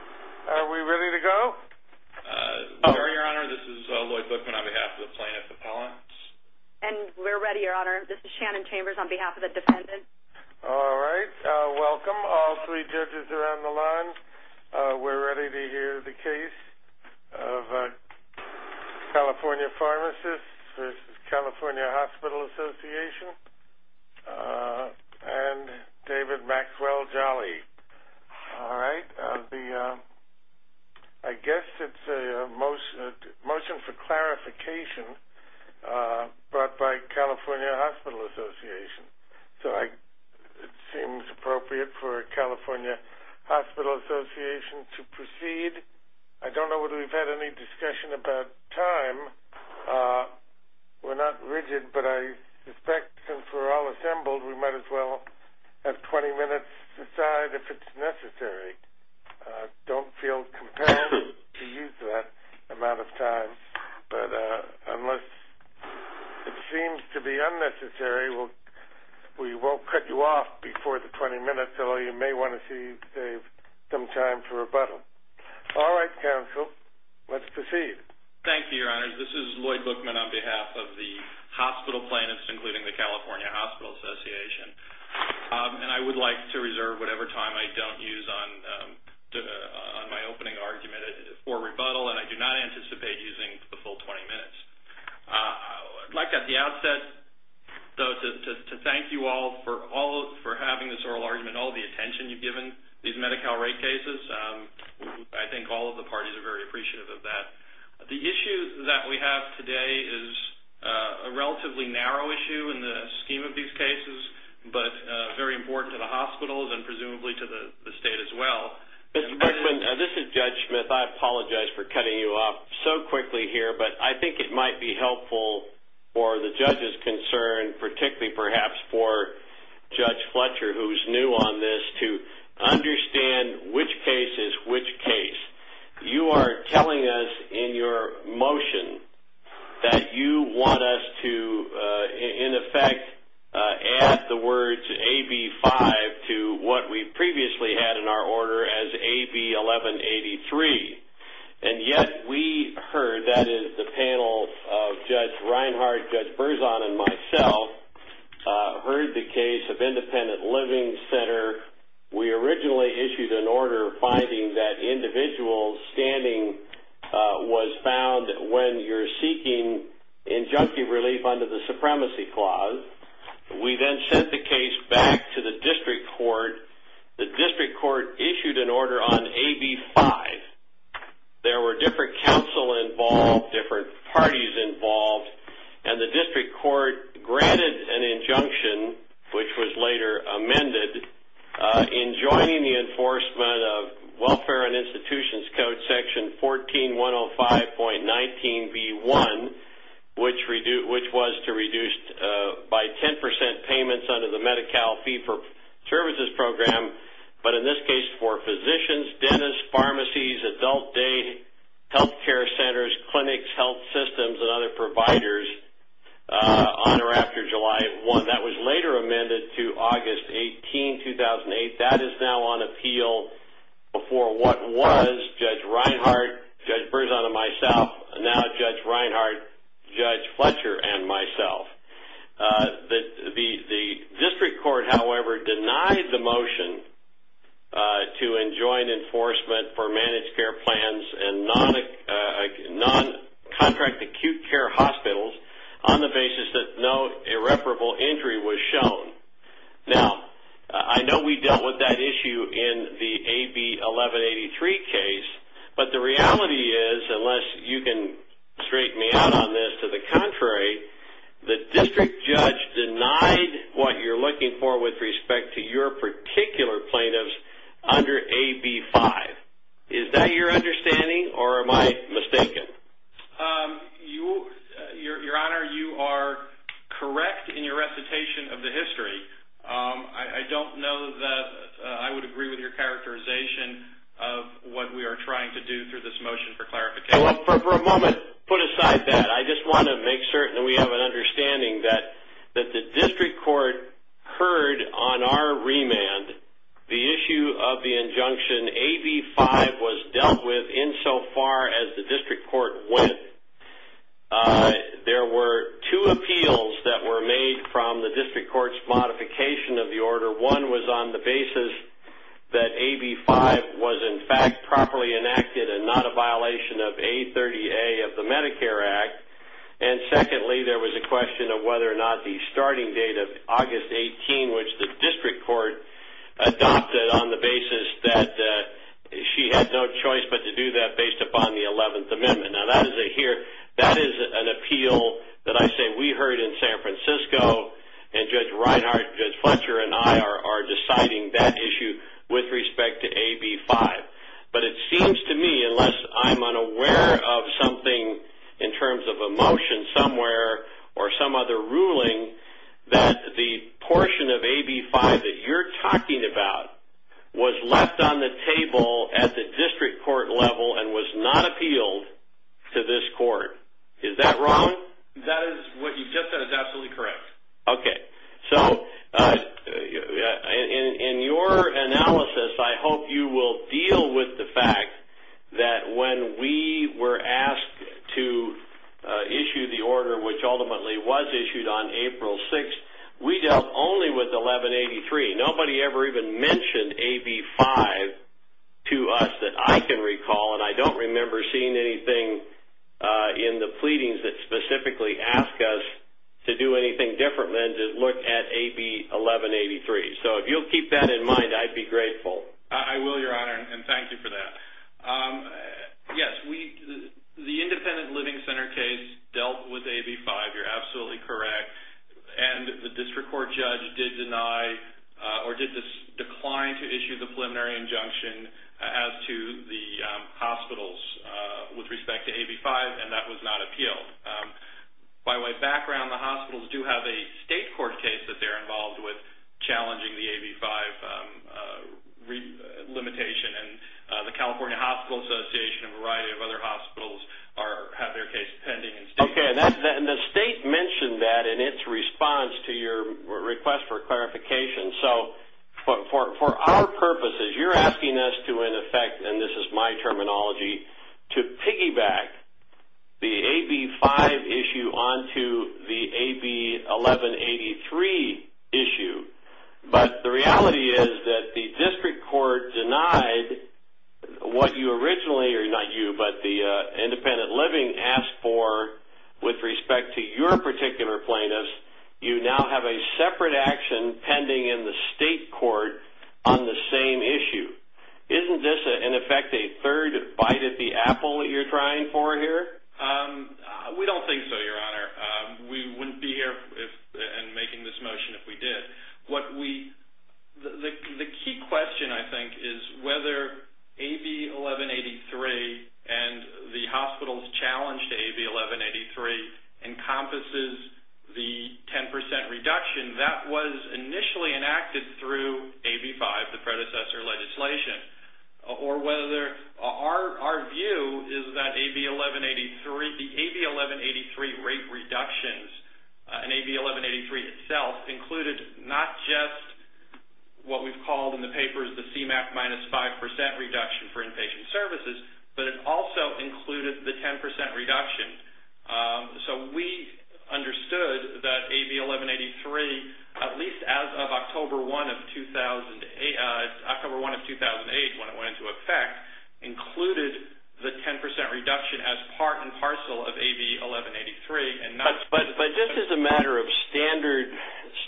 Are we ready to go? We are your honor, this is Lloyd Bookman on behalf of the plaintiff's appellants. And we're ready your honor, this is Shannon Chambers on behalf of the defendant. All right, welcome all three judges around the line. We're ready to hear the case of California Pharmacists v. California Hospital Association and David Maxwell-Jolly. All right, I guess it's a motion for clarification brought by California Hospital Association. So it seems appropriate for California Hospital Association to proceed. I don't know that we've had any discussion about time. We're not rigid, but I suspect since we're all assembled, we might as well have 20 minutes to decide if it's necessary. Don't feel compelled to use that amount of time, but unless it seems to be unnecessary, we won't cut you off before the 20 minutes, although you may want to save some time for rebuttal. All right, counsel, let's proceed. Thank you, your honor. This is Lloyd Bookman on behalf of the hospital plaintiffs, including the California Hospital Association, and I would like to reserve whatever time I don't use on my opening argument for rebuttal, and I do not anticipate using the full 20 minutes. I'd like at the outset, though, to thank you all for having this oral argument, all the attention you've given these Medi-Cal rate cases. I think all of the parties are very appreciative of that. The issue that we have today is a relatively narrow issue in the scheme of these cases, but very important to the hospitals and presumably to the state as well. Mr. Bookman, this is Judge Smith. I apologize for cutting you off so quickly here, but I think it might be helpful for the judge's concern, particularly perhaps for Judge Fletcher, who's new on this, to understand which case is which case. You are telling us in your motion that you want us to, in effect, add the words AB 5 to what we previously had in our order as AB 1183, and yet we heard, that is, the panel of Judge Reinhart, Judge Berzon, and myself heard the case of Independent Living Center. We originally issued an order finding that individual standing was found when you're seeking injunctive relief under the Supremacy Clause. We then sent the case back to the District Court. The District Court issued an order on AB 5. There were different counsel involved, different parties involved, and the District Court granted an injunction, which was later amended, in joining the enforcement of Welfare and Institutions Code Section 14105.19b1, which was to reduce by 10% payments under the Medi-Cal Fee-for-Services Program, but in this case, for physicians, dentists, pharmacies, adult day health care centers, clinics, health systems, and other providers on or after July 1. That was later amended to August 18, 2008. That is now on appeal before what was Judge Reinhart, Judge Berzon, and myself, and now Judge Reinhart, Judge Fletcher, and myself. The District Court, however, denied the motion to enjoin enforcement for managed care plans and non-contract acute care hospitals on the basis that no irreparable injury was shown. Now, I know we dealt with that issue in the AB 1183 case, but the reality is, unless you can straighten me out on this, to the contrary, the district judge denied what you're looking for with respect to your particular plaintiffs under AB 5. Is that your understanding, or am I mistaken? Your Honor, you are correct in your recitation of the history. I don't know that I would agree with your characterization of what we are trying to do through this motion for clarification. For a moment, put aside that. I just want to make certain that we have an understanding that the district court heard on our remand the issue of the injunction AB 5 was dealt with insofar as the district court went. There were two appeals that were made from the district court's modification of the order. One was on the basis that AB 5 was, in fact, properly enacted and not a violation of A30A of the Medicare Act. Secondly, there was a question of whether or not the starting date of August 18, which the district court adopted on the basis that she had no choice but to do that based upon the 11th Amendment. That is an appeal that I say we heard in San Francisco, and Judge Reinhart, Judge Reinhart, citing that issue with respect to AB 5. It seems to me, unless I'm unaware of something in terms of a motion somewhere or some other ruling, that the portion of AB 5 that you're talking about was left on the table at the district court level and was not appealed to this court. Is that wrong? That is what you just said is absolutely correct. Okay. In your analysis, I hope you will deal with the fact that when we were asked to issue the order, which ultimately was issued on April 6th, we dealt only with 1183. Nobody ever even mentioned AB 5 to us that I can recall, and I don't remember seeing anything in the pleadings that specifically ask us to do anything different than to look at AB 1183. If you'll keep that in mind, I'd be grateful. I will, Your Honor, and thank you for that. Yes, the Independent Living Center case dealt with AB 5. You're absolutely correct. The district court judge did decline to issue the preliminary injunction as to the hospital's with respect to AB 5, and that was not appealed. By way of background, the hospitals do have a state court case that they're involved with challenging the AB 5 limitation. The California Hospital Association and a variety of other hospitals have their case pending. Okay. The state mentioned that in its response to your request for clarification. For our purposes, you're asking us to, in effect, and this is my own opinion, to piggyback the AB 5 issue onto the AB 1183 issue. The reality is that the district court denied what you originally, or not you, but the independent living asked for with respect to your particular plaintiffs. You now have a separate action pending in the state court on the same issue. Isn't this, in effect, a third bite at the apple that you're trying for here? We don't think so, Your Honor. We wouldn't be here and making this motion if we did. The key question, I think, is whether AB 1183 and the hospital's challenge to AB 1183 encompasses the 10 percent reduction that was initially enacted through AB 5, the predecessor legislation, or whether our view is that AB 1183, the AB 1183 rate reductions and AB 1183 itself included not just what we've called in the papers the CMAQ minus 5 percent reduction for inpatient services, but it also included the 10 percent reduction. So we understood that October 1 of 2008, when it went into effect, included the 10 percent reduction as part and parcel of AB 1183 and not... But this is a matter of standard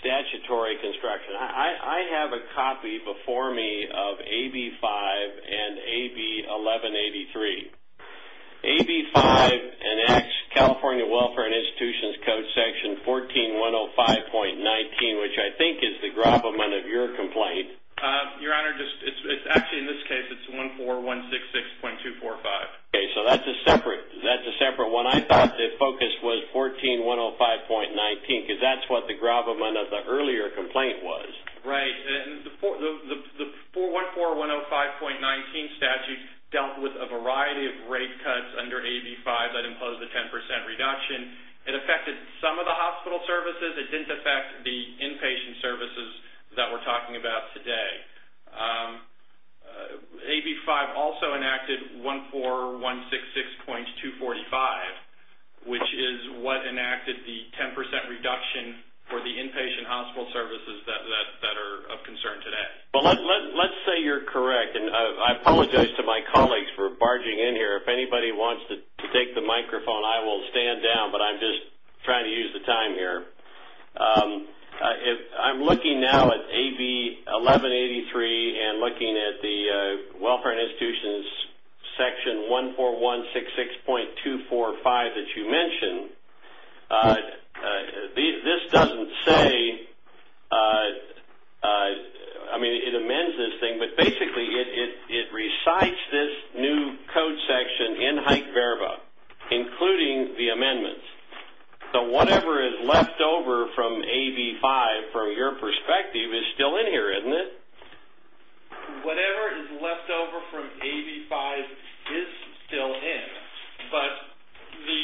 statutory construction. I have a copy before me of AB 5 and AB 1183. AB 5 enacts California Welfare and the 14166.245. Okay. So that's a separate one. I thought the focus was 14105.19 because that's what the gravamen of the earlier complaint was. Right. The 414105.19 statute dealt with a variety of rate cuts under AB 5 that imposed the 10 percent reduction. It affected some of the hospital services. It didn't affect the inpatient services that we're talking about today. AB 5 also enacted 14166.245, which is what enacted the 10 percent reduction for the inpatient hospital services that are of concern today. Well, let's say you're correct, and I apologize to my colleagues for barging in here. If anybody wants to take the microphone, I will stand down, but I'm trying to use the time here. I'm looking now at AB 1183 and looking at the Welfare and Institutions section 14166.245 that you mentioned. This doesn't say... I mean, it amends this thing, but basically it recites this new code section in Hike-Verba, including the amendments. Whatever is left over from AB 5, from your perspective, is still in here, isn't it? Whatever is left over from AB 5 is still in, but the...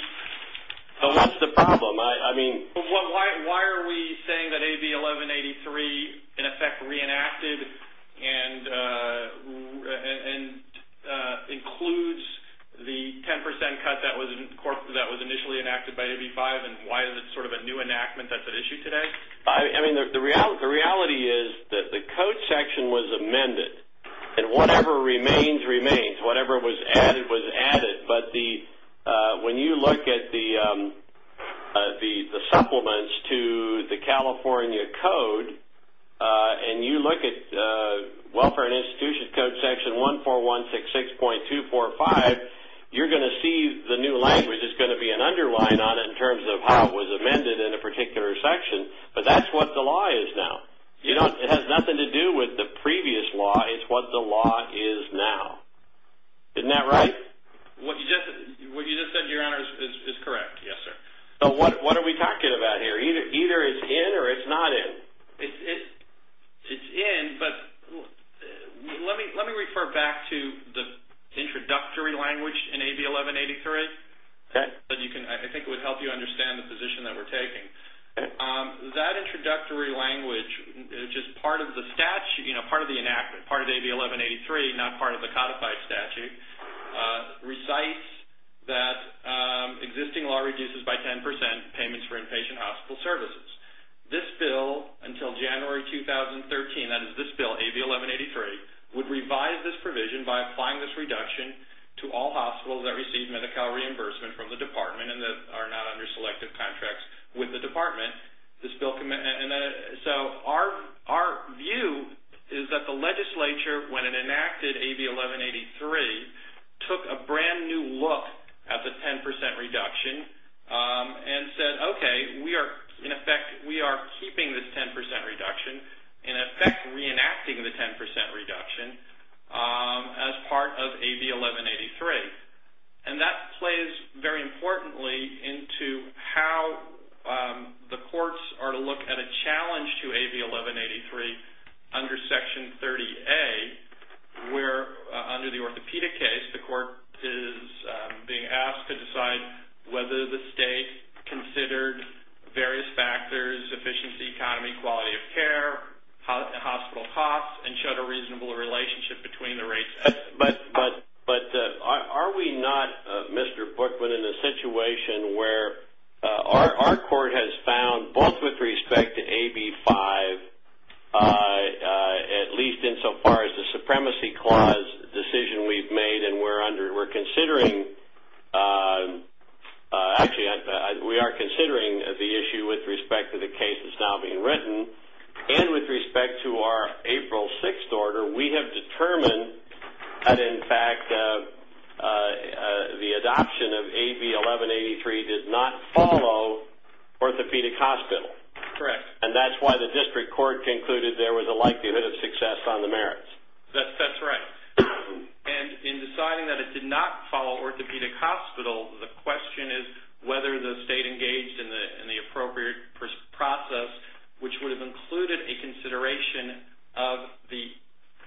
What's the problem? Why are we saying that AB 1183, in effect, reenacted and includes the 10 percent cut that was initially enacted by AB 5? Why is it sort of a new enactment that's at issue today? The reality is that the code section was amended, and whatever remains, remains. Whatever was added, was added. When you look at the supplements to the California Code, and you look at Welfare and Institutions Code section 14166.245, you're going to see the new language is going to be an underline on it in terms of how it was amended in a particular section, but that's what the law is now. It has nothing to do with the previous law. It's what the law is now. Isn't that right? What you just said, Your Honor, is correct. Yes, sir. But what are we talking about here? Either it's in or it's not in. It's in, but let me refer back to the introductory language in AB 1183. I think it would help you understand the position that we're taking. That introductory language, just part of the statute, part of the enactment, part of the statute, recites that existing law reduces by 10% payments for inpatient hospital services. This bill, until January 2013, that is this bill, AB 1183, would revise this provision by applying this reduction to all hospitals that receive medical reimbursement from the department and that are not under selective contracts with the department. Our view is that the legislature, when it enacted AB 1183, took a brand new look at the 10% reduction and said, okay, we are keeping this 10% reduction, in effect reenacting the 10% reduction as part of AB 1183. That plays very importantly into how the courts are to look at a challenge to AB 1183 under Section 30A, where under the orthopedic case, the court is being asked to decide whether the state considered various factors, efficiency, economy, quality of care, hospital costs, and showed a reasonable relationship between the rates. But are we not, Mr. Bookman, in a situation where our court has found, both with respect to AB 5, at least insofar as the Supremacy Clause decision we've made and we're considering... Actually, we are considering the issue with respect to the case that's now being written, and with respect to our April 6th order, we have determined that, in fact, the adoption of AB 1183 did not follow orthopedic hospital. Correct. And that's why the district court concluded there was a likelihood of success on the merits. That's right. And in deciding that it did not follow orthopedic hospital, the question is whether the state engaged in the appropriate process, which would have included a consideration of the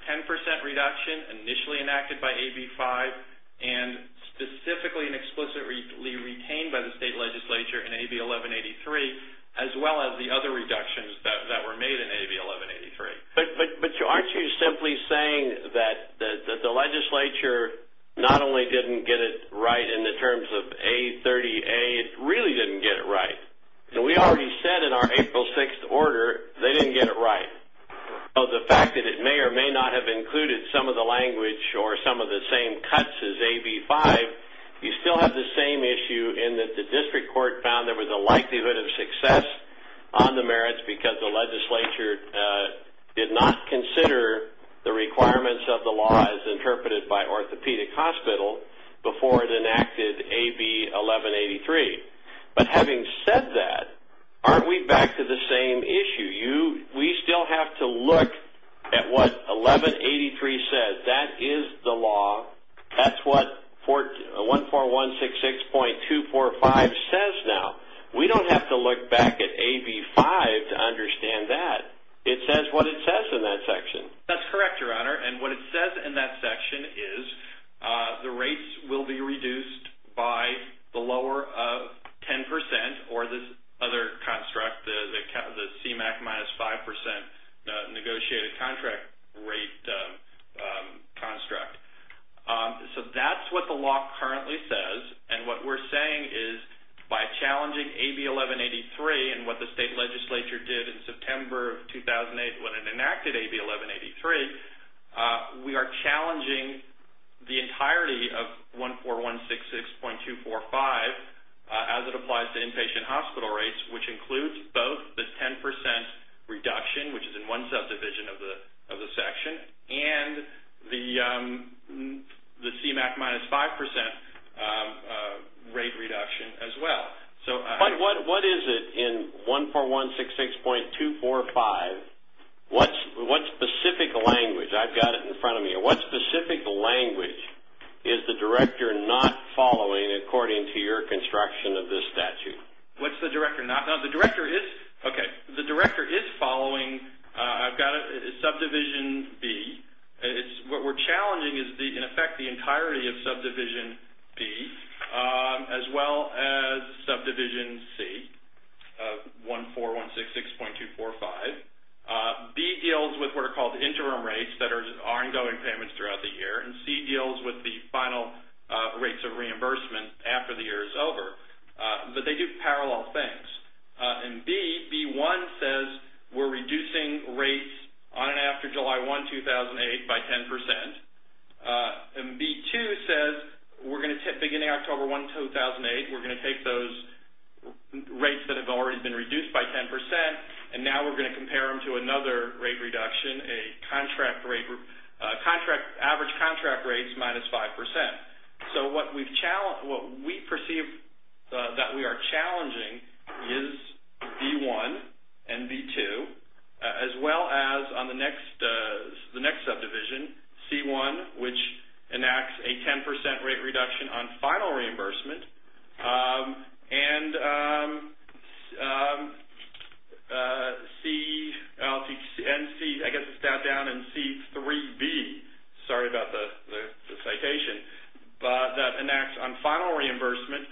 10% reduction initially enacted by AB 5, and specifically and explicitly retained by the state legislature in AB 1183, as well as the other reductions that were made in AB 1183. But aren't you simply saying that the legislature not only didn't get it right in the terms of A30A, it really didn't get it right? We already said in our April 6th order they didn't get it right. The fact that it may or may not have included some of the language or some of the same cuts as AB 5, you still have the same issue in that the district court found there was a likelihood of success on the merits because the legislature did not consider the requirements of the law as interpreted by orthopedic hospital before it enacted AB 1183. But having said that, aren't we back to the same issue? We still have to look at what 1183 says. That is the law. That's what 14166.245 says now. We don't have to look back at AB 5 to understand that. It says what it says in that section. That's correct, Your Honor, and what it says in that section is the rates will be reduced by the lower of 10% or this other construct, the CMAC minus 5% negotiated contract rate construct. That's what the law currently says and what we're saying is by challenging AB 1183 and what the state legislature did in September of 2008 when it enacted 14166.245 as it applies to inpatient hospital rates, which includes both the 10% reduction, which is in one subdivision of the section, and the CMAC minus 5% rate reduction as well. What is it in 14166.245? What specific language? I've got it in front of me. What specific language is the director not following according to your construction of this statute? What's the director not? No, the director is following. I've got it in subdivision B. What we're challenging is, in effect, the entirety of subdivision B as well as subdivision C of 14166.245. B deals with what are called interim rates that are ongoing payments throughout the year and C deals with the final rates of reimbursement after the year is over, but they do parallel things. B1 says we're reducing rates on and after July 1, 2008 by 10% and B2 says we're going to tip beginning October 1, 2008. We're going to take those rates that have already been reduced by 10% and now we're going to compare them to another rate reduction, average contract rates minus 5%. So what we perceive that we are challenging is B1 and B2 as well as on the next subdivision, C1, which enacts a 10% rate reduction on final reimbursement and C3B, sorry about the citation, that enacts on final reimbursement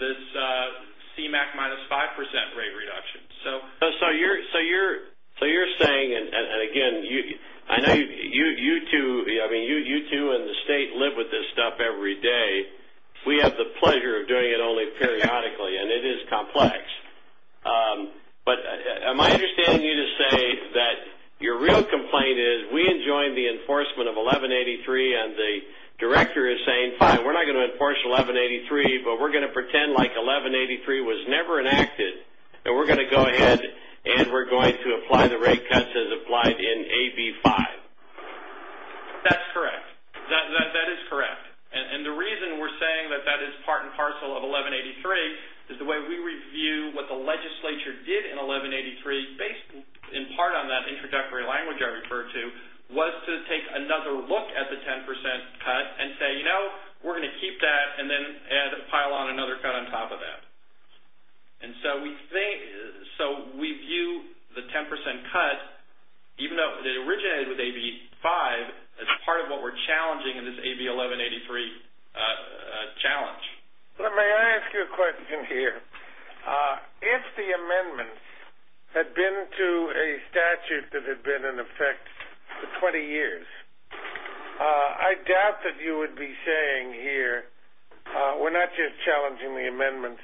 this CMAQ minus 5% rate reduction. So you're saying, and again, I know you two in the state live with this stuff every day. We have the pleasure of doing it only periodically and it is complex. But am I understanding you to say that your real complaint is we enjoined the enforcement of 1183 and the director is saying, fine, we're not going to enforce 1183, but we're going to pretend like 1183 was never enacted and we're going to go ahead and we're going to apply the rate cuts as applied in AB5. That's correct. That is correct. And the reason we're saying that that is part and parcel of 1183 is the way we review what the legislature did in 1183 based in part on that introductory language I referred to was to take another look at the 10% cut and say, you know, we're going to keep that and then pile on another cut on top of that. And so we view the 10% cut, even though it originated with AB5, as part of what we're challenging in this AB1183 challenge. Let me ask you a question here. If the amendments had been to a statute that had been in effect for 20 years, I doubt that you would be saying here, we're not just challenging the amendments,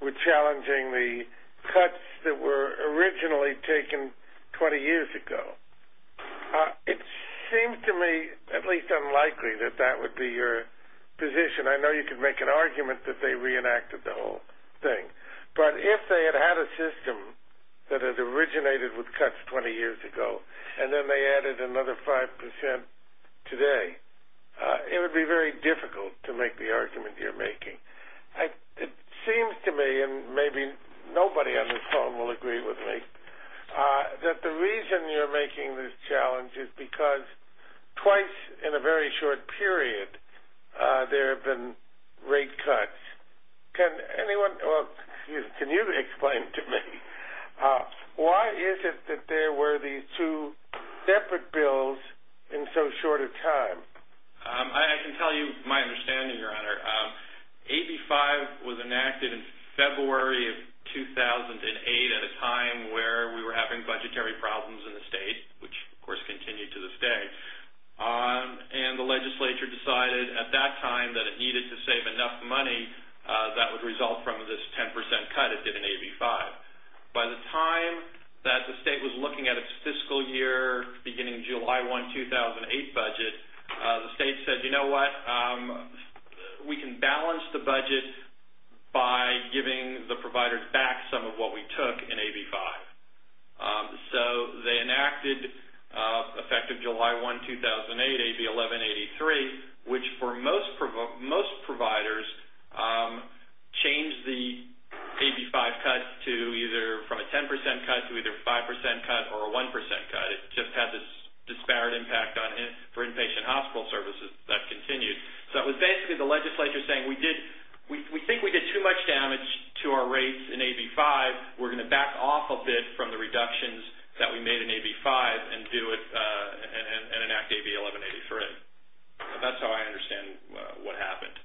we're challenging the cuts that were originally taken 20 years ago. It seems to me at least unlikely that that would be your position. I know you could make an argument that they reenacted the whole thing. But if they had had a system that had originated with cuts 20 years ago and then they added another 5% today, it would be very difficult to make the argument you're making. It seems to me, and maybe nobody on this phone will agree with me, that the reason you're making this challenge is because twice in a very short period there have been rate cuts. Can anyone, can you explain to me, why is it that there were these two separate bills in so short a time? I can tell you my understanding, Your Honor. AB5 was enacted in February of 2008 at a time where we were having budgetary problems in the state, which of course continue to this day, and the legislature decided at that time that it needed to save enough money that would result from this 10% cut it did in AB5. By the time that the state was looking at its fiscal year beginning July 1, 2008 budget, the state said, you know what, we can balance the budget by giving the providers back some of what we took in AB5. So they enacted effective July 1, 2008, AB1183, which for most providers changed the AB5 cut to either from a 10% cut to either a 5% cut or a 1% cut. It just had this disparate impact for inpatient hospital services. That continued. So it was basically the legislature saying, we think we did too much damage to our rates in AB5. We're going to back off a bit from the reductions that we made in AB5 and do it and enact AB1183. That's how I understand what happened.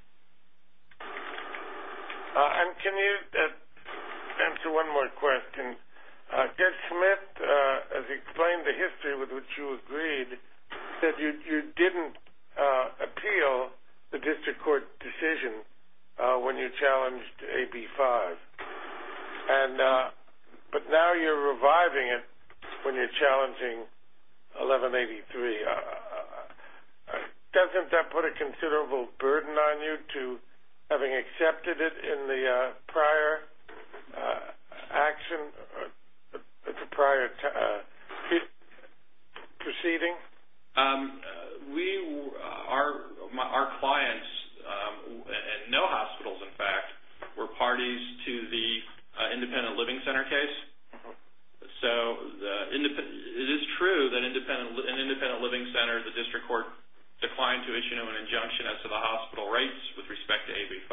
And can you answer one more question? Judge Smith has explained the history with which you agreed that you didn't appeal the district court decision when you challenged AB5. And but now you're reviving it when you're challenging AB1183. Doesn't that put a considerable burden on you to having accepted it in the prior action, the prior proceeding? Our clients, no hospitals in fact, were parties to the independent living center case. So it is true that an independent living center, the district court declined to issue an injunction as to the hospital rates with respect to AB5.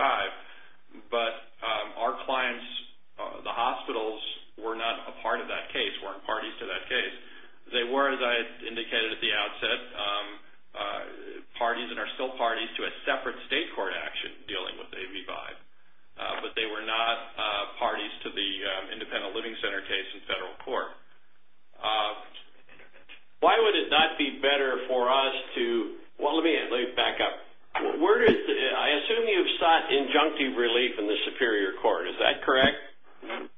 But our clients, the hospitals, were not a part of that case, weren't parties to that case. They were, as I indicated at the outset, parties and are still parties to a separate state court action dealing with AB5. But they were not parties to the independent living center case in federal court. Why would it not be better for us to, well let me back up. I assume you sought injunctive relief in the superior court, is that correct?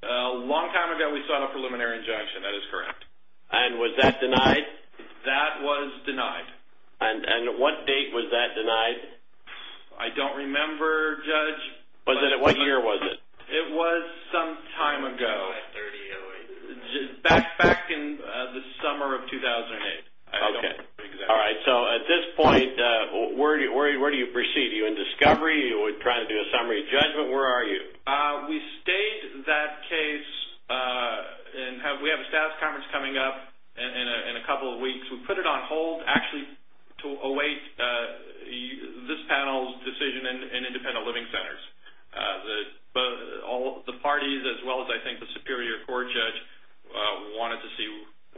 A long time ago we sought a preliminary injunction, that is correct. And was that denied? That was denied. And what date was that denied? I don't remember, Judge. Was it, what year was it? It was some time ago, back in the summer of 2008. Okay, all right. So at this point, where do you proceed? Are you in discovery or are you trying to do a summary judgment? Where are you? We stayed that case and we have a staff conference coming up in a couple of weeks. We put it on hold actually to await this panel's decision in independent living centers. All the parties, as well as I think the superior court judge, wanted to see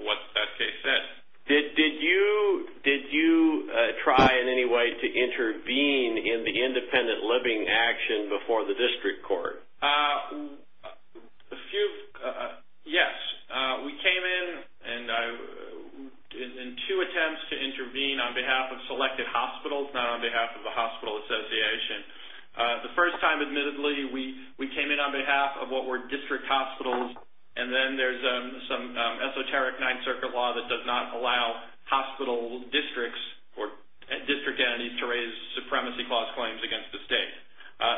what that case said. Did you try in any way to intervene in the independent living action before the district court? A few, yes. We came in and I, in two attempts to intervene on behalf of selected hospitals, not on behalf of the hospital association. The first time, admittedly, we came in on behalf of what were district hospitals and then there's some esoteric Ninth Circuit law that does not allow hospital districts or district entities to raise supremacy clause claims against the state.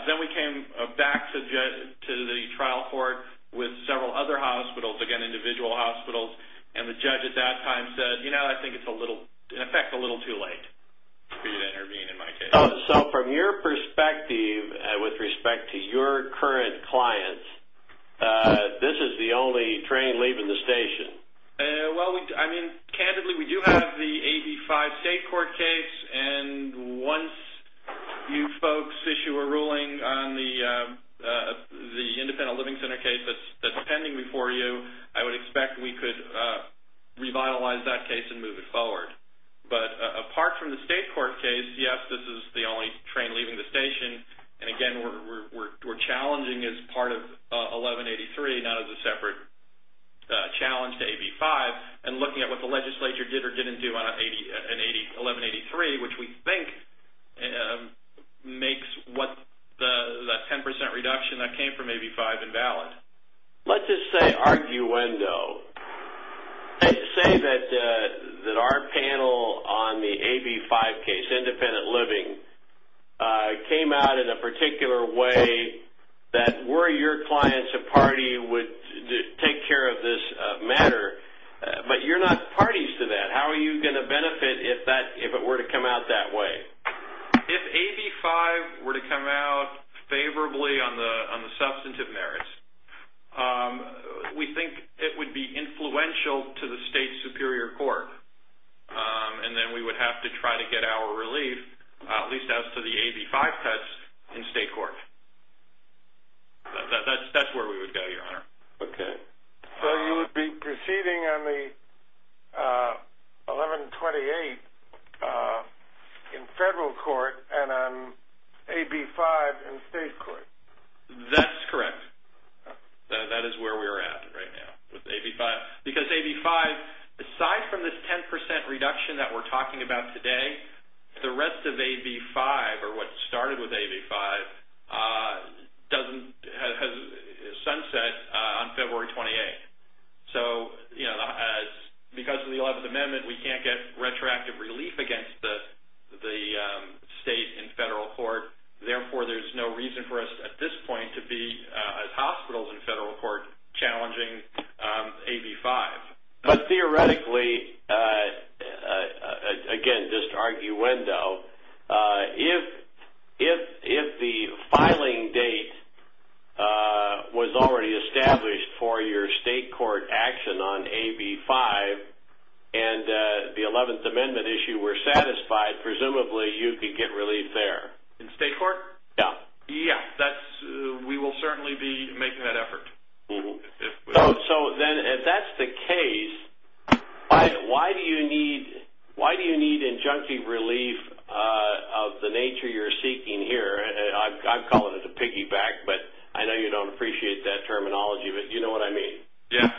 Then we came back to the trial court with several other hospitals, again individual hospitals, and the judge at that time said, you know, I think it's in effect a little too late for you to intervene in my case. So from your perspective, with respect to your current clients, this is the only train leaving the station? Well, I mean, candidly, we do have the 85 state court case and once you folks issue a ruling on the independent living center case that's pending before you, I would expect we could revitalize that case and move it forward. But apart from the state court case, yes, this is the only train leaving the station. And again, we're challenging as part of 1183, not as a separate challenge to AB5, and looking at what the legislature did or didn't do on 1183, which we think makes what the 10% reduction that came from AB5 invalid. Let's just say arguendo. Say that our panel on the AB5 case, independent living, came out in a particular way that were your clients a party would take care of this matter, but you're not parties to that. How are you going to benefit if it were to come out that way? If AB5 were to come out favorably on the substantive merits, we think it would be influential to the state superior court and then we would have to try to get our relief, at least as to the AB5 cuts in state court. That's where we would go, your honor. Okay. So you would be proceeding on the 1128 in federal court and on AB5 in state court. That's correct. That is where we are at right now with AB5. Because AB5, aside from this 10% reduction that we're talking about today, the rest of AB5, or what started with AB5, has sunset on February 28th. Because of the 11th Amendment, we can't get retroactive relief against the state in federal court. Therefore, there's no reason for us at this point to be, as hospitals in federal court, challenging AB5. But theoretically, again, just arguendo, if the filing date was already established for your state court action on AB5 and the 11th Amendment issue were satisfied, presumably you could get relief there. In state court? Yeah. Yeah, we will certainly be making that effort. So then, if that's the case, why do you need injunctive relief of the nature you're seeking here? I'd call it a piggyback, but I know you don't appreciate that terminology, but you know what I mean. Yeah.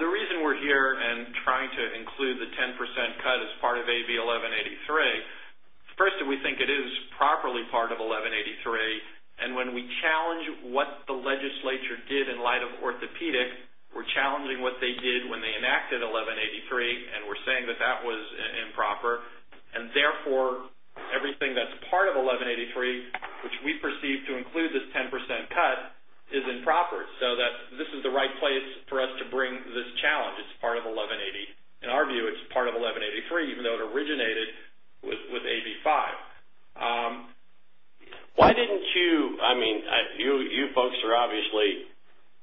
The reason we're here and trying to include the 10% cut as part of AB1183, first, we think it is properly part of 1183. When we challenge what the legislature did in light of orthopedic, we're challenging what they did when they enacted 1183, and we're saying that that was improper. Therefore, everything that's part of 1183, which we perceive to include this 10% cut, is improper. This is the right place for us to bring this challenge. It's part of 1180. In our view, it's part of 1183, even though it originated with AB5. You folks are obviously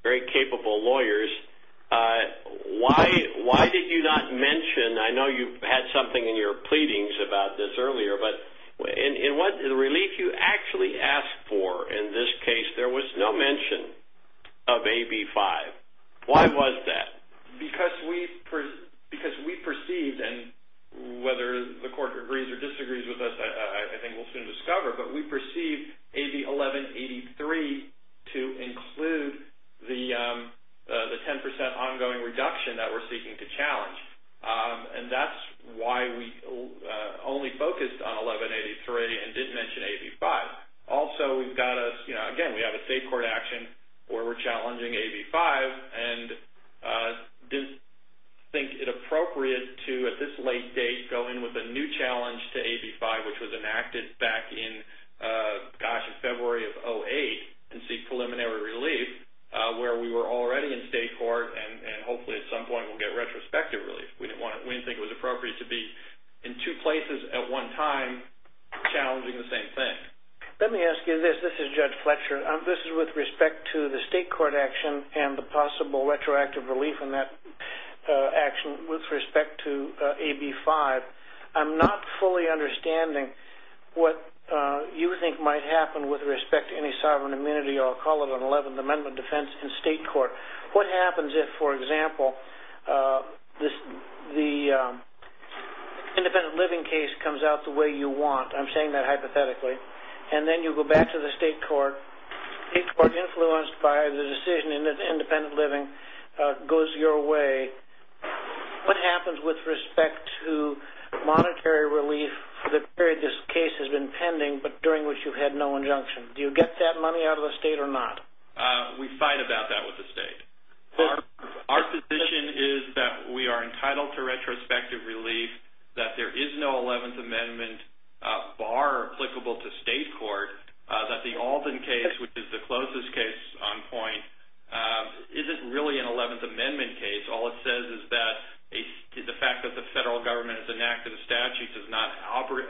very capable lawyers. Why did you not mention? I know you had something in your pleadings about this earlier, but in the relief you actually asked for in this case, there was no mention of AB5. Why was that? Because we perceived, and whether the court agrees or disagrees with us, I think we'll soon discover, but we perceive AB1183 to include the 10% ongoing reduction that we're seeking to challenge. That's why we only focused on 1183 and didn't mention AB5. Also, we've got a, again, we have a state court action where we're challenging AB5, and didn't think it appropriate to, at this late date, go in with a new challenge to AB5, which was enacted back in February of 2008, and seek preliminary relief, where we were already in state court, and hopefully at some point we'll get retrospective relief. We didn't think it was appropriate to be in two places at one time challenging the same thing. Let me ask you this. This is Judge Fletcher. This is with respect to the state court action and the possible retroactive relief in that action with respect to AB5. I'm not fully understanding what you think might happen with respect to any sovereign immunity, or I'll call it an 11th Amendment defense in state court. What happens if, for example, the independent living case comes out the way you want, I'm saying that hypothetically, and then you go back to the state court, state court influenced by the decision in the independent living goes your way, what happens with respect to monetary relief for the period this case has been pending, but during which you had no injunction? Do you get that money out of the state or not? We fight about that with the state. Our position is that we are entitled to retrospective relief, that there is no applicable to state court, that the Alden case, which is the closest case on point, isn't really an 11th Amendment case. All it says is that the fact that the federal government has enacted a statute does not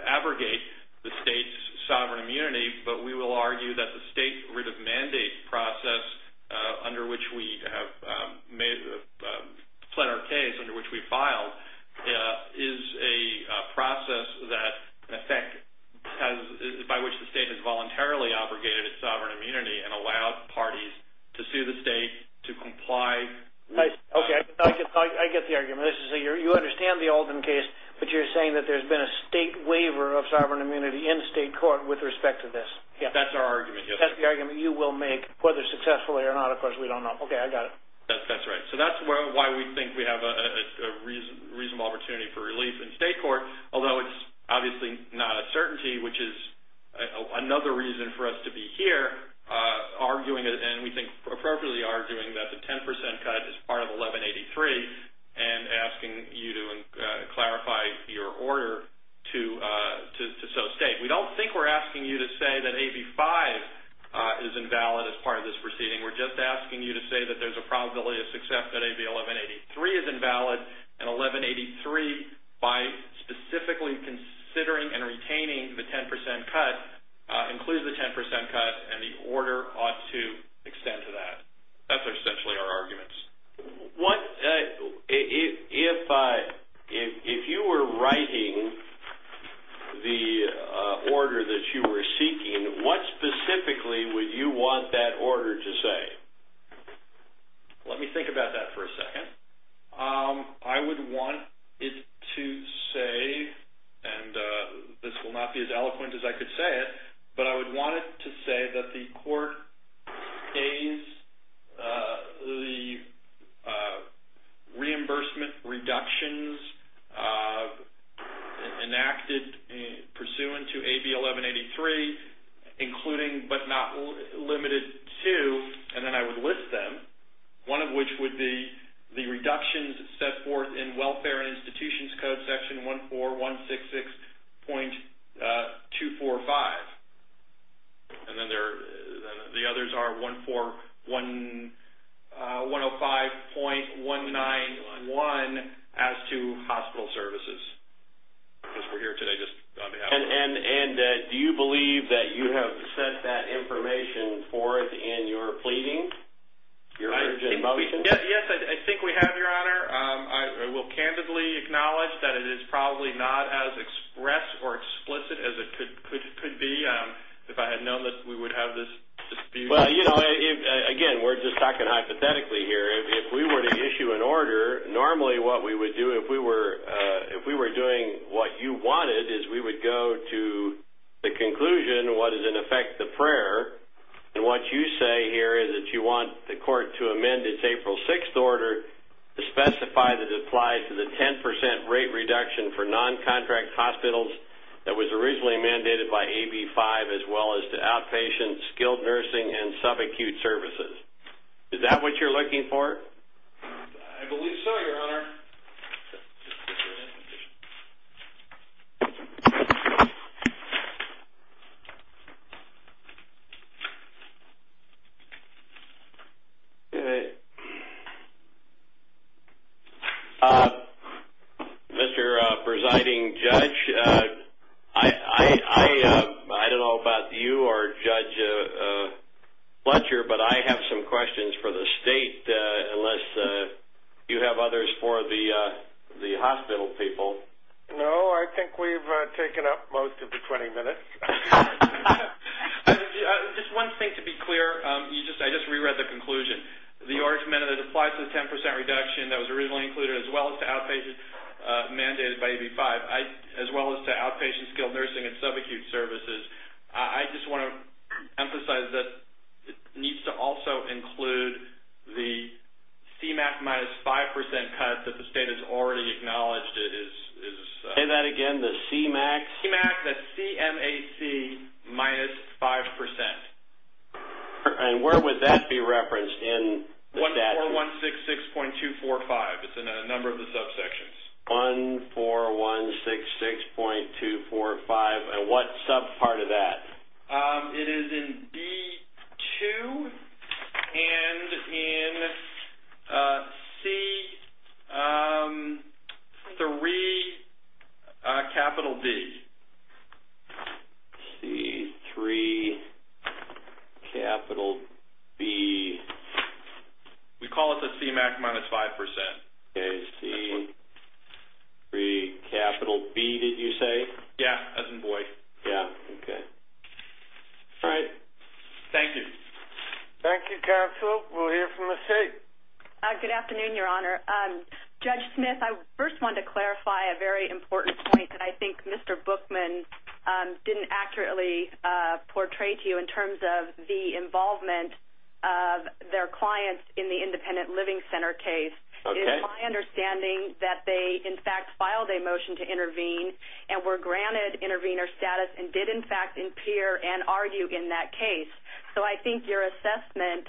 abrogate the state's sovereign immunity, but we will argue that the state writ of mandate process under which we have fled our case, under which we state has voluntarily abrogated its sovereign immunity and allowed parties to sue the state to comply. I get the argument. You understand the Alden case, but you're saying that there's been a state waiver of sovereign immunity in state court with respect to this. That's our argument. That's the argument you will make, whether successfully or not, of course, we don't know. Okay, I got it. That's right. That's why we think we have a reasonable opportunity for relief in state court, although it's obviously not a certainty, which is another reason for us to be here arguing, and we think appropriately arguing, that the 10% cut is part of 1183 and asking you to clarify your order to so state. We don't think we're asking you to say that AB5 is invalid as part of this proceeding. We're just asking you to say that there's a probability of success that AB1183 is invalid, and 1183, by specifically considering and retaining the 10% cut, includes the 10% cut, and the order ought to extend to that. That's essentially our arguments. If you were writing the order that you were seeking, what specifically would you want that order to say? Let me think about that for a second. I would want it to say, and this will not be as eloquent as I could say it, but I would want it to say that the court pays the reimbursement reductions enacted pursuant to AB1183, including but not limited to, and then I would list them, one of which would be the reductions set forth in Welfare and Institutions Code Section 14166.245, and then the others are 14105.191 as to hospital services, because we're here today just on behalf of the court. Do you believe that you have set that information forth in your pleading? Your urgent motion? Yes, I think we have, Your Honor. I will candidly acknowledge that it is probably not as expressed or explicit as it could be if I had known that we would have this dispute. Well, again, we're just talking hypothetically here. If we were to issue an order, normally what we would do, if we were doing what you wanted, is we would go to the conclusion, what is in effect the prayer, and what you say here is that you want the court to amend its April 6th order to specify that it applies to the 10% rate reduction for non-contract hospitals that was originally mandated by AB5, as well as to outpatient, skilled nursing, and subacute services. Is that what you're looking for? I believe so, Your Honor. Mr. Presiding Judge, I don't know about you or Judge Fletcher, but I have some questions for the state, unless you have others for the hospital people. No, I think we've taken up most of the 20 minutes. Just one thing to be clear, I just reread the conclusion. The argument that it applies to the 10% reduction that was originally included, as well as to outpatient mandated by AB5, as well as to outpatient, skilled nursing, and subacute services, I just want to emphasize that it needs to also include the CMAQ minus 5% cut that the state has already acknowledged. Say that again, the CMAQ? CMAQ, that's C-M-A-Q minus 5%. Where would that be referenced in the statute? 14166.245, it's in a number of the subsections. 14166.245, and what sub part of that? It is in B-2, and in C-3, capital B. C-3, capital B. We call it the CMAQ minus 5%. C-3, capital B, did you say? Yeah, as in boy. Yeah, okay. All right, thank you. Thank you, counsel. We'll hear from the state. Good afternoon, your honor. Judge Smith, I first wanted to clarify a very important point that I think Mr. Bookman didn't accurately portray to you in terms of the involvement of their clients in the independent living center case. It is my understanding that they, in fact, filed a motion to intervene and were granted intervener status and did, in fact, appear and argue in that case. So I think your assessment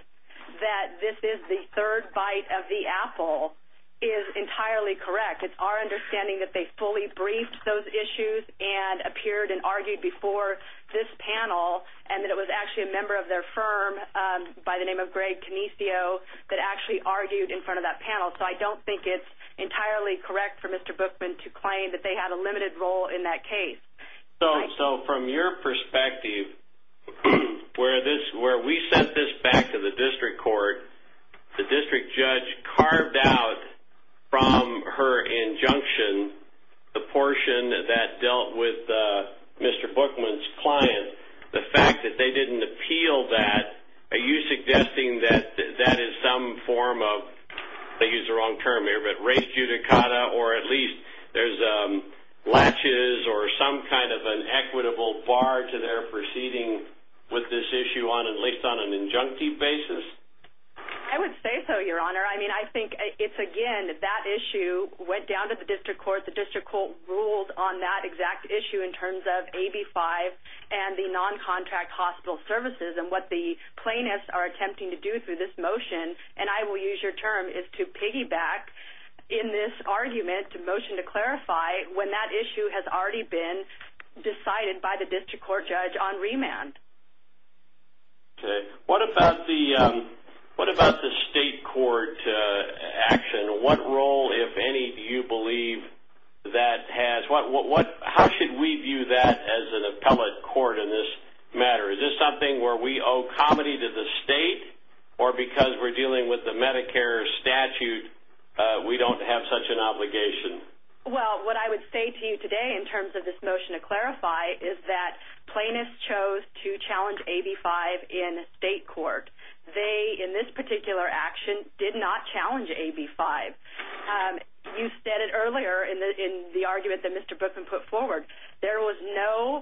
that this is the third bite of the apple is entirely correct. It's our understanding that they fully briefed those issues and appeared and argued before this panel and that it was actually a member of their firm by the name of Greg Canicio that actually argued in front of that panel. So I don't think it's entirely correct for Mr. Bookman to claim that they had a limited role in that case. So from your perspective, where we sent this back to the district court, the district judge carved out from her injunction the portion that dealt with Mr. Bookman's client. The fact that they didn't appeal that, are you suggesting that that is some form of, I think it's the wrong term here, but rejudicata or at least there's latches or some kind of an equitable bar to their proceeding with this issue on at least on an injunctive basis? I would say so, your honor. I mean, I think it's, again, that issue went down to the district court. The district court ruled on that exact issue in terms of AB-5 and the non-contract hospital services and what the plaintiffs are attempting to do through this motion. And I will use your term is to piggyback in this argument to motion to clarify when that issue has already been decided by the district court judge on remand. Okay. What about the state court action? What role, if any, do you believe that has? How should we view that as an appellate court in this matter? Is this something where we owe comedy to the state or because we're dealing with the Medicare statute, we don't have such an obligation? Well, what I would say to you today in terms of this motion to clarify is that plaintiffs chose to challenge AB-5 in state court. They, in this particular action, did not challenge AB-5. You said it earlier in the argument that Mr. Bookman put forward. There was no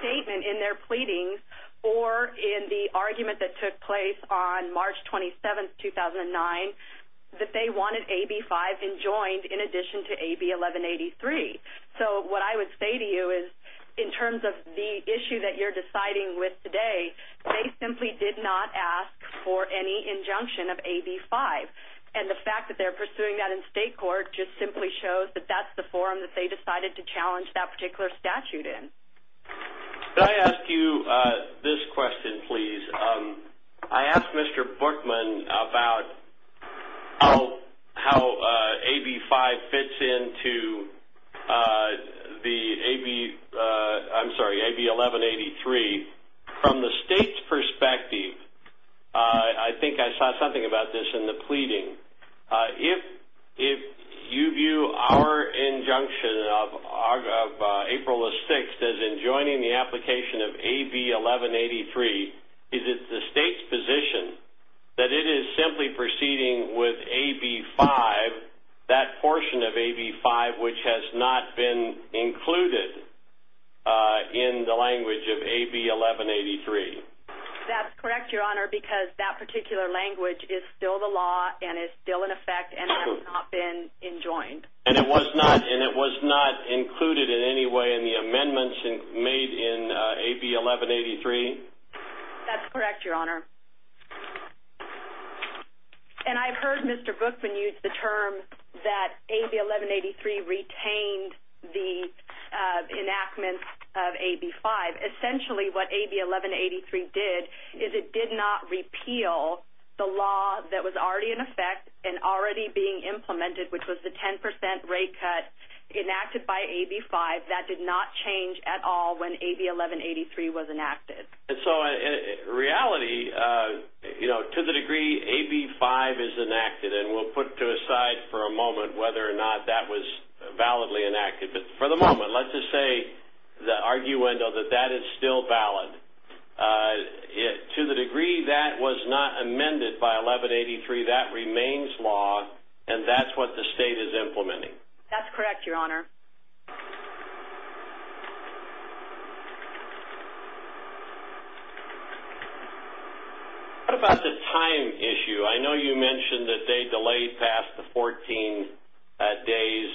statement in their pleadings or in the argument that took place on March 27th, 2009, that they wanted AB-5 enjoined in addition to AB-1183. So what I would say to you is in terms of the issue that you're deciding with today, they simply did not ask for any injunction of AB-5. And the fact that they're pursuing that in state court just simply shows that that's the forum that they decided to challenge that particular statute in. Could I ask you this question, please? I asked Mr. Bookman about how AB-5 fits into the AB, I'm sorry, AB-1183. From the state's perspective, I think I saw something about this in the pleading. If you view our injunction of April the 6th as enjoining the application of AB-1183, is it the state's position that it is simply proceeding with AB-5, that portion of AB-5, which has not been included in the language of AB-1183? That's correct, Your Honor, because that particular language is still the law and is still in effect and has not been enjoined. And it was not included in any way in the amendments made in AB-1183? That's correct, Your Honor. And I've heard Mr. Bookman use the term that AB-1183 retained the enactment of AB-5. Essentially, what AB-1183 did is it did not repeal the law that was already in effect and already being implemented, which was the 10% rate cut enacted by AB-5. That did not change at all when AB-1183 was enacted. And so in reality, you know, to the degree AB-5 is enacted, and we'll put to the side for a moment whether or not that was validly enacted. But for the moment, let's just say the arguendo that that is still valid. To the degree that was not amended by AB-1183, that remains law, and that's what the state is implementing. That's correct, Your Honor. What about the time issue? I know you mentioned that they delayed past the 14 days.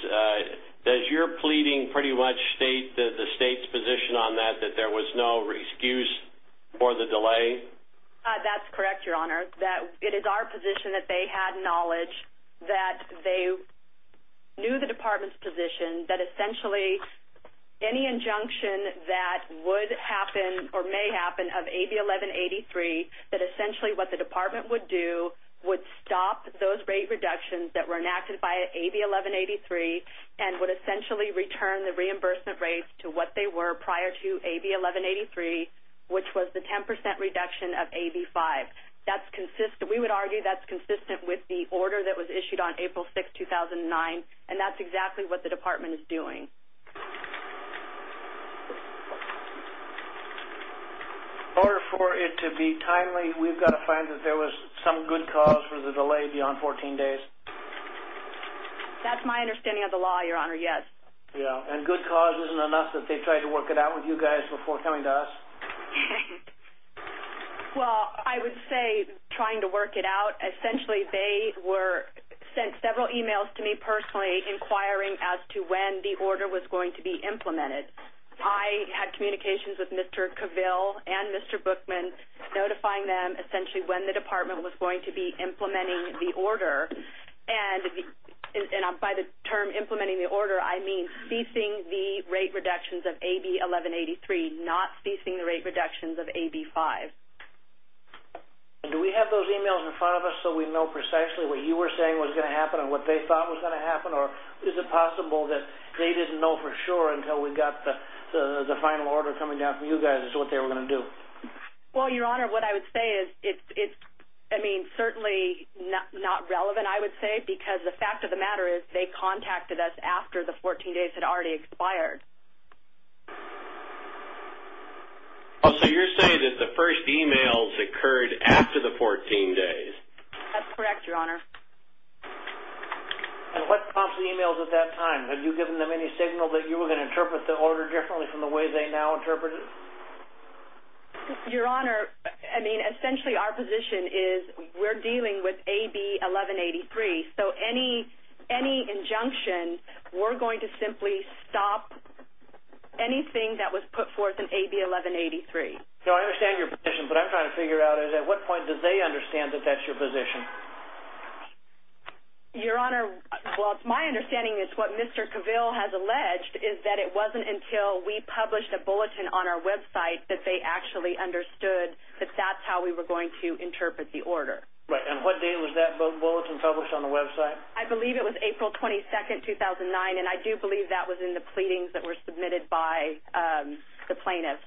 Does your pleading pretty much state the state's position on that, that there was no excuse for the delay? That's correct, Your Honor. It is our position that they had knowledge, that they knew the department's position, that essentially any injunction that would happen or may happen of AB-1183, that essentially what the department would do would stop those rate reductions that were enacted by AB-1183 and would essentially return the reimbursement rates to what they were prior to AB-1183, which was the 10% reduction of AB-5. That's consistent. We would argue that's consistent with the order that was issued on April 6, 2009, and that's exactly what the department is doing. In order for it to be timely, we've got to find that there was some good cause for the delay beyond 14 days. That's my understanding of the law, Your Honor, yes. And good cause isn't enough that they tried to work it out with you guys before coming to us? Well, I would say trying to work it out. Essentially, they sent several emails to me personally inquiring as to when the order was going to be implemented. I had communications with Mr. Cavill and Mr. Bookman, notifying them essentially when the department was going to be implementing the order. By the term implementing the order, I mean ceasing the rate reductions of AB-1183, not ceasing the rate reductions of AB-5. Do we have those emails in front of us so we know precisely what you were saying was going to happen and what they thought was going to happen, or is it possible that they didn't know for sure until we got the final order coming down from you guys as to what they were going to do? Well, Your Honor, what I would say is it's, I mean, certainly not relevant, I would say, because the fact of the matter is they contacted us after the 14 days had already expired. So you're saying that the first emails occurred after the 14 days? That's correct, Your Honor. And what prompts the emails at that time? Have you given them any signal that you were going to interpret the order differently from the way they now interpret it? Your Honor, I mean, essentially our position is we're dealing with AB-1183, so any injunction, we're going to simply stop anything that was put forth in AB-1183. So I understand your position, but I'm trying to figure out is at what point did they understand that that's your position? Your Honor, well, it's my understanding it's what Mr. Cavill has alleged is that it wasn't until we published a bulletin on our website that they actually understood that that's how we were going to interpret the order. Right, and what date was that bulletin published on the website? I believe it was April 22, 2009, and I do believe that was in the pleadings that were submitted by the plaintiffs.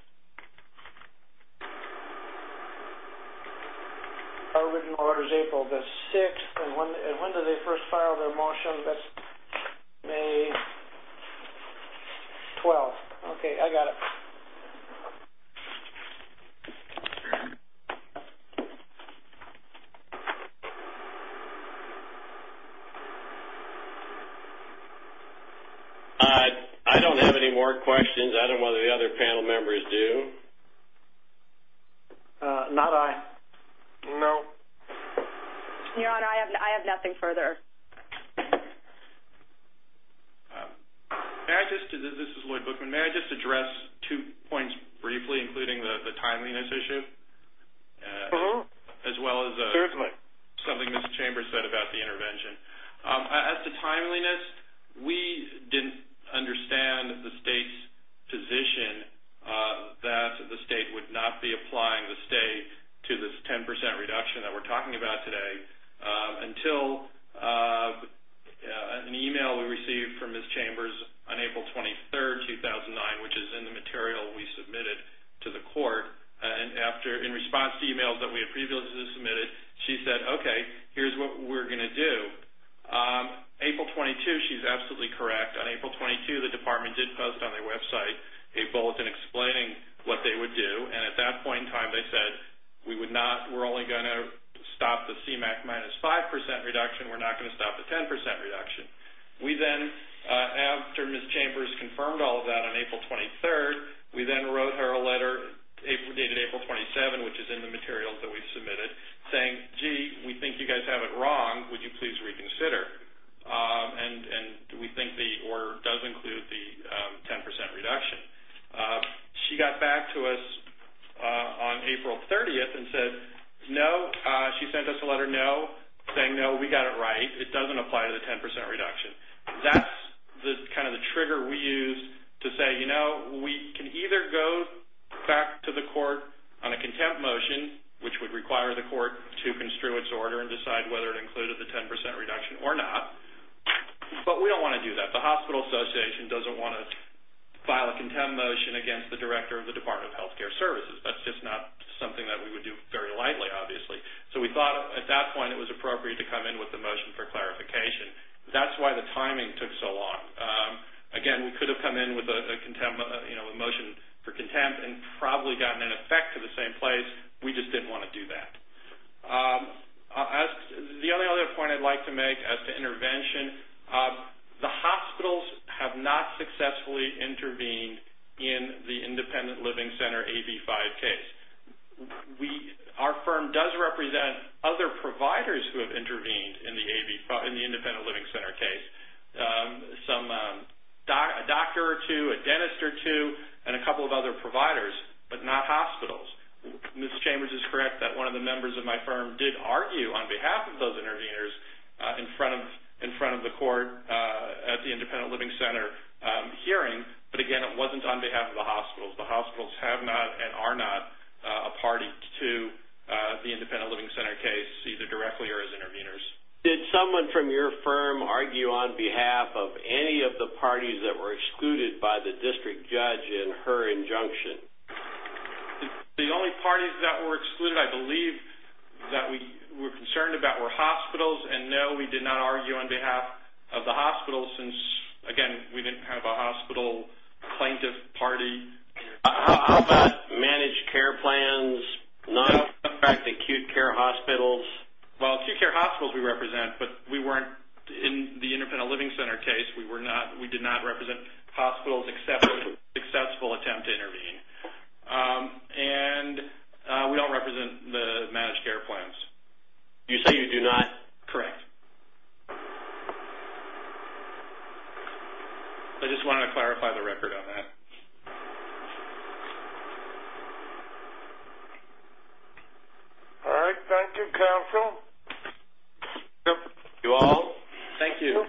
Our written order is April the 6th, and when did they first file their motion? That's May 12th. Okay, I got it. All right, I don't have any more questions. I don't know whether the other panel members do. Not I. No. Your Honor, I have nothing further. All right, this is Lloyd Bookman. May I just address two points briefly, including the timeliness issue, as well as something Ms. Chambers said about the intervention. As to timeliness, we didn't understand the state's position that the state would not be applying the state to this 10 percent reduction that we're talking about today until an email we received from Ms. Chambers on April 23, 2009, which is in the material we submitted to the court. In response to emails that we had previously submitted, she said, okay, here's what we're going to do. April 22, she's absolutely correct. On April 22, the department did post on their website a bulletin explaining what they would do, and at that point in time they said we're only going to stop the CMAQ minus 5 percent reduction. We're not going to stop the 10 percent reduction. We then, after Ms. Chambers confirmed all of that on April 23, we then wrote her a letter dated April 27, which is in the material that we submitted, saying, gee, we think you guys have it wrong. Would you please reconsider? And we think the order does include the 10 percent reduction. She got back to us on April 30 and said, no, she sent us a letter saying, no, we got it right. It doesn't apply to the 10 percent reduction. That's kind of the trigger we use to say, you know, we can either go back to the court on a contempt motion, which would require the court to construe its order and decide whether it included the 10 percent reduction or not, but we don't want to do that. The hospital association doesn't want to file a contempt motion against the director of the Department of Health Care Services. That's just not something that we would do very lightly, obviously. So we thought at that point it was appropriate to come in with a motion for clarification. That's why the timing took so long. Again, we could have come in with a motion for contempt and probably gotten an effect to the same place. We just didn't want to do that. The only other point I'd like to make as to intervention, the hospitals have not successfully intervened in the independent living center AB-5 case. Our firm does represent other providers who have intervened in the independent living center case, a doctor or two, a dentist or two, and a couple of other providers, but not hospitals. Ms. Chambers is correct that one of the members of my firm did argue on behalf of those interveners in front of the court at the independent living center hearing, but again, it wasn't on behalf of the hospitals. The hospitals have not and are not a party to the independent living center case, either directly or as interveners. Did someone from your firm argue on behalf of any of the parties that were excluded by the district judge in her injunction? The only parties that were excluded, I believe, that we were concerned about were hospitals, and no, we did not argue on behalf of the hospitals since, again, we didn't have a hospital plaintiff party. How about managed care plans, not affect acute care hospitals? Well, acute care hospitals we represent, but we weren't in the independent living center case. We did not represent hospitals accepting a successful attempt to intervene, and we don't represent the managed care plans. You say you do not? Correct. I just wanted to clarify the record on that. All right. Thank you, counsel. You all, thank you.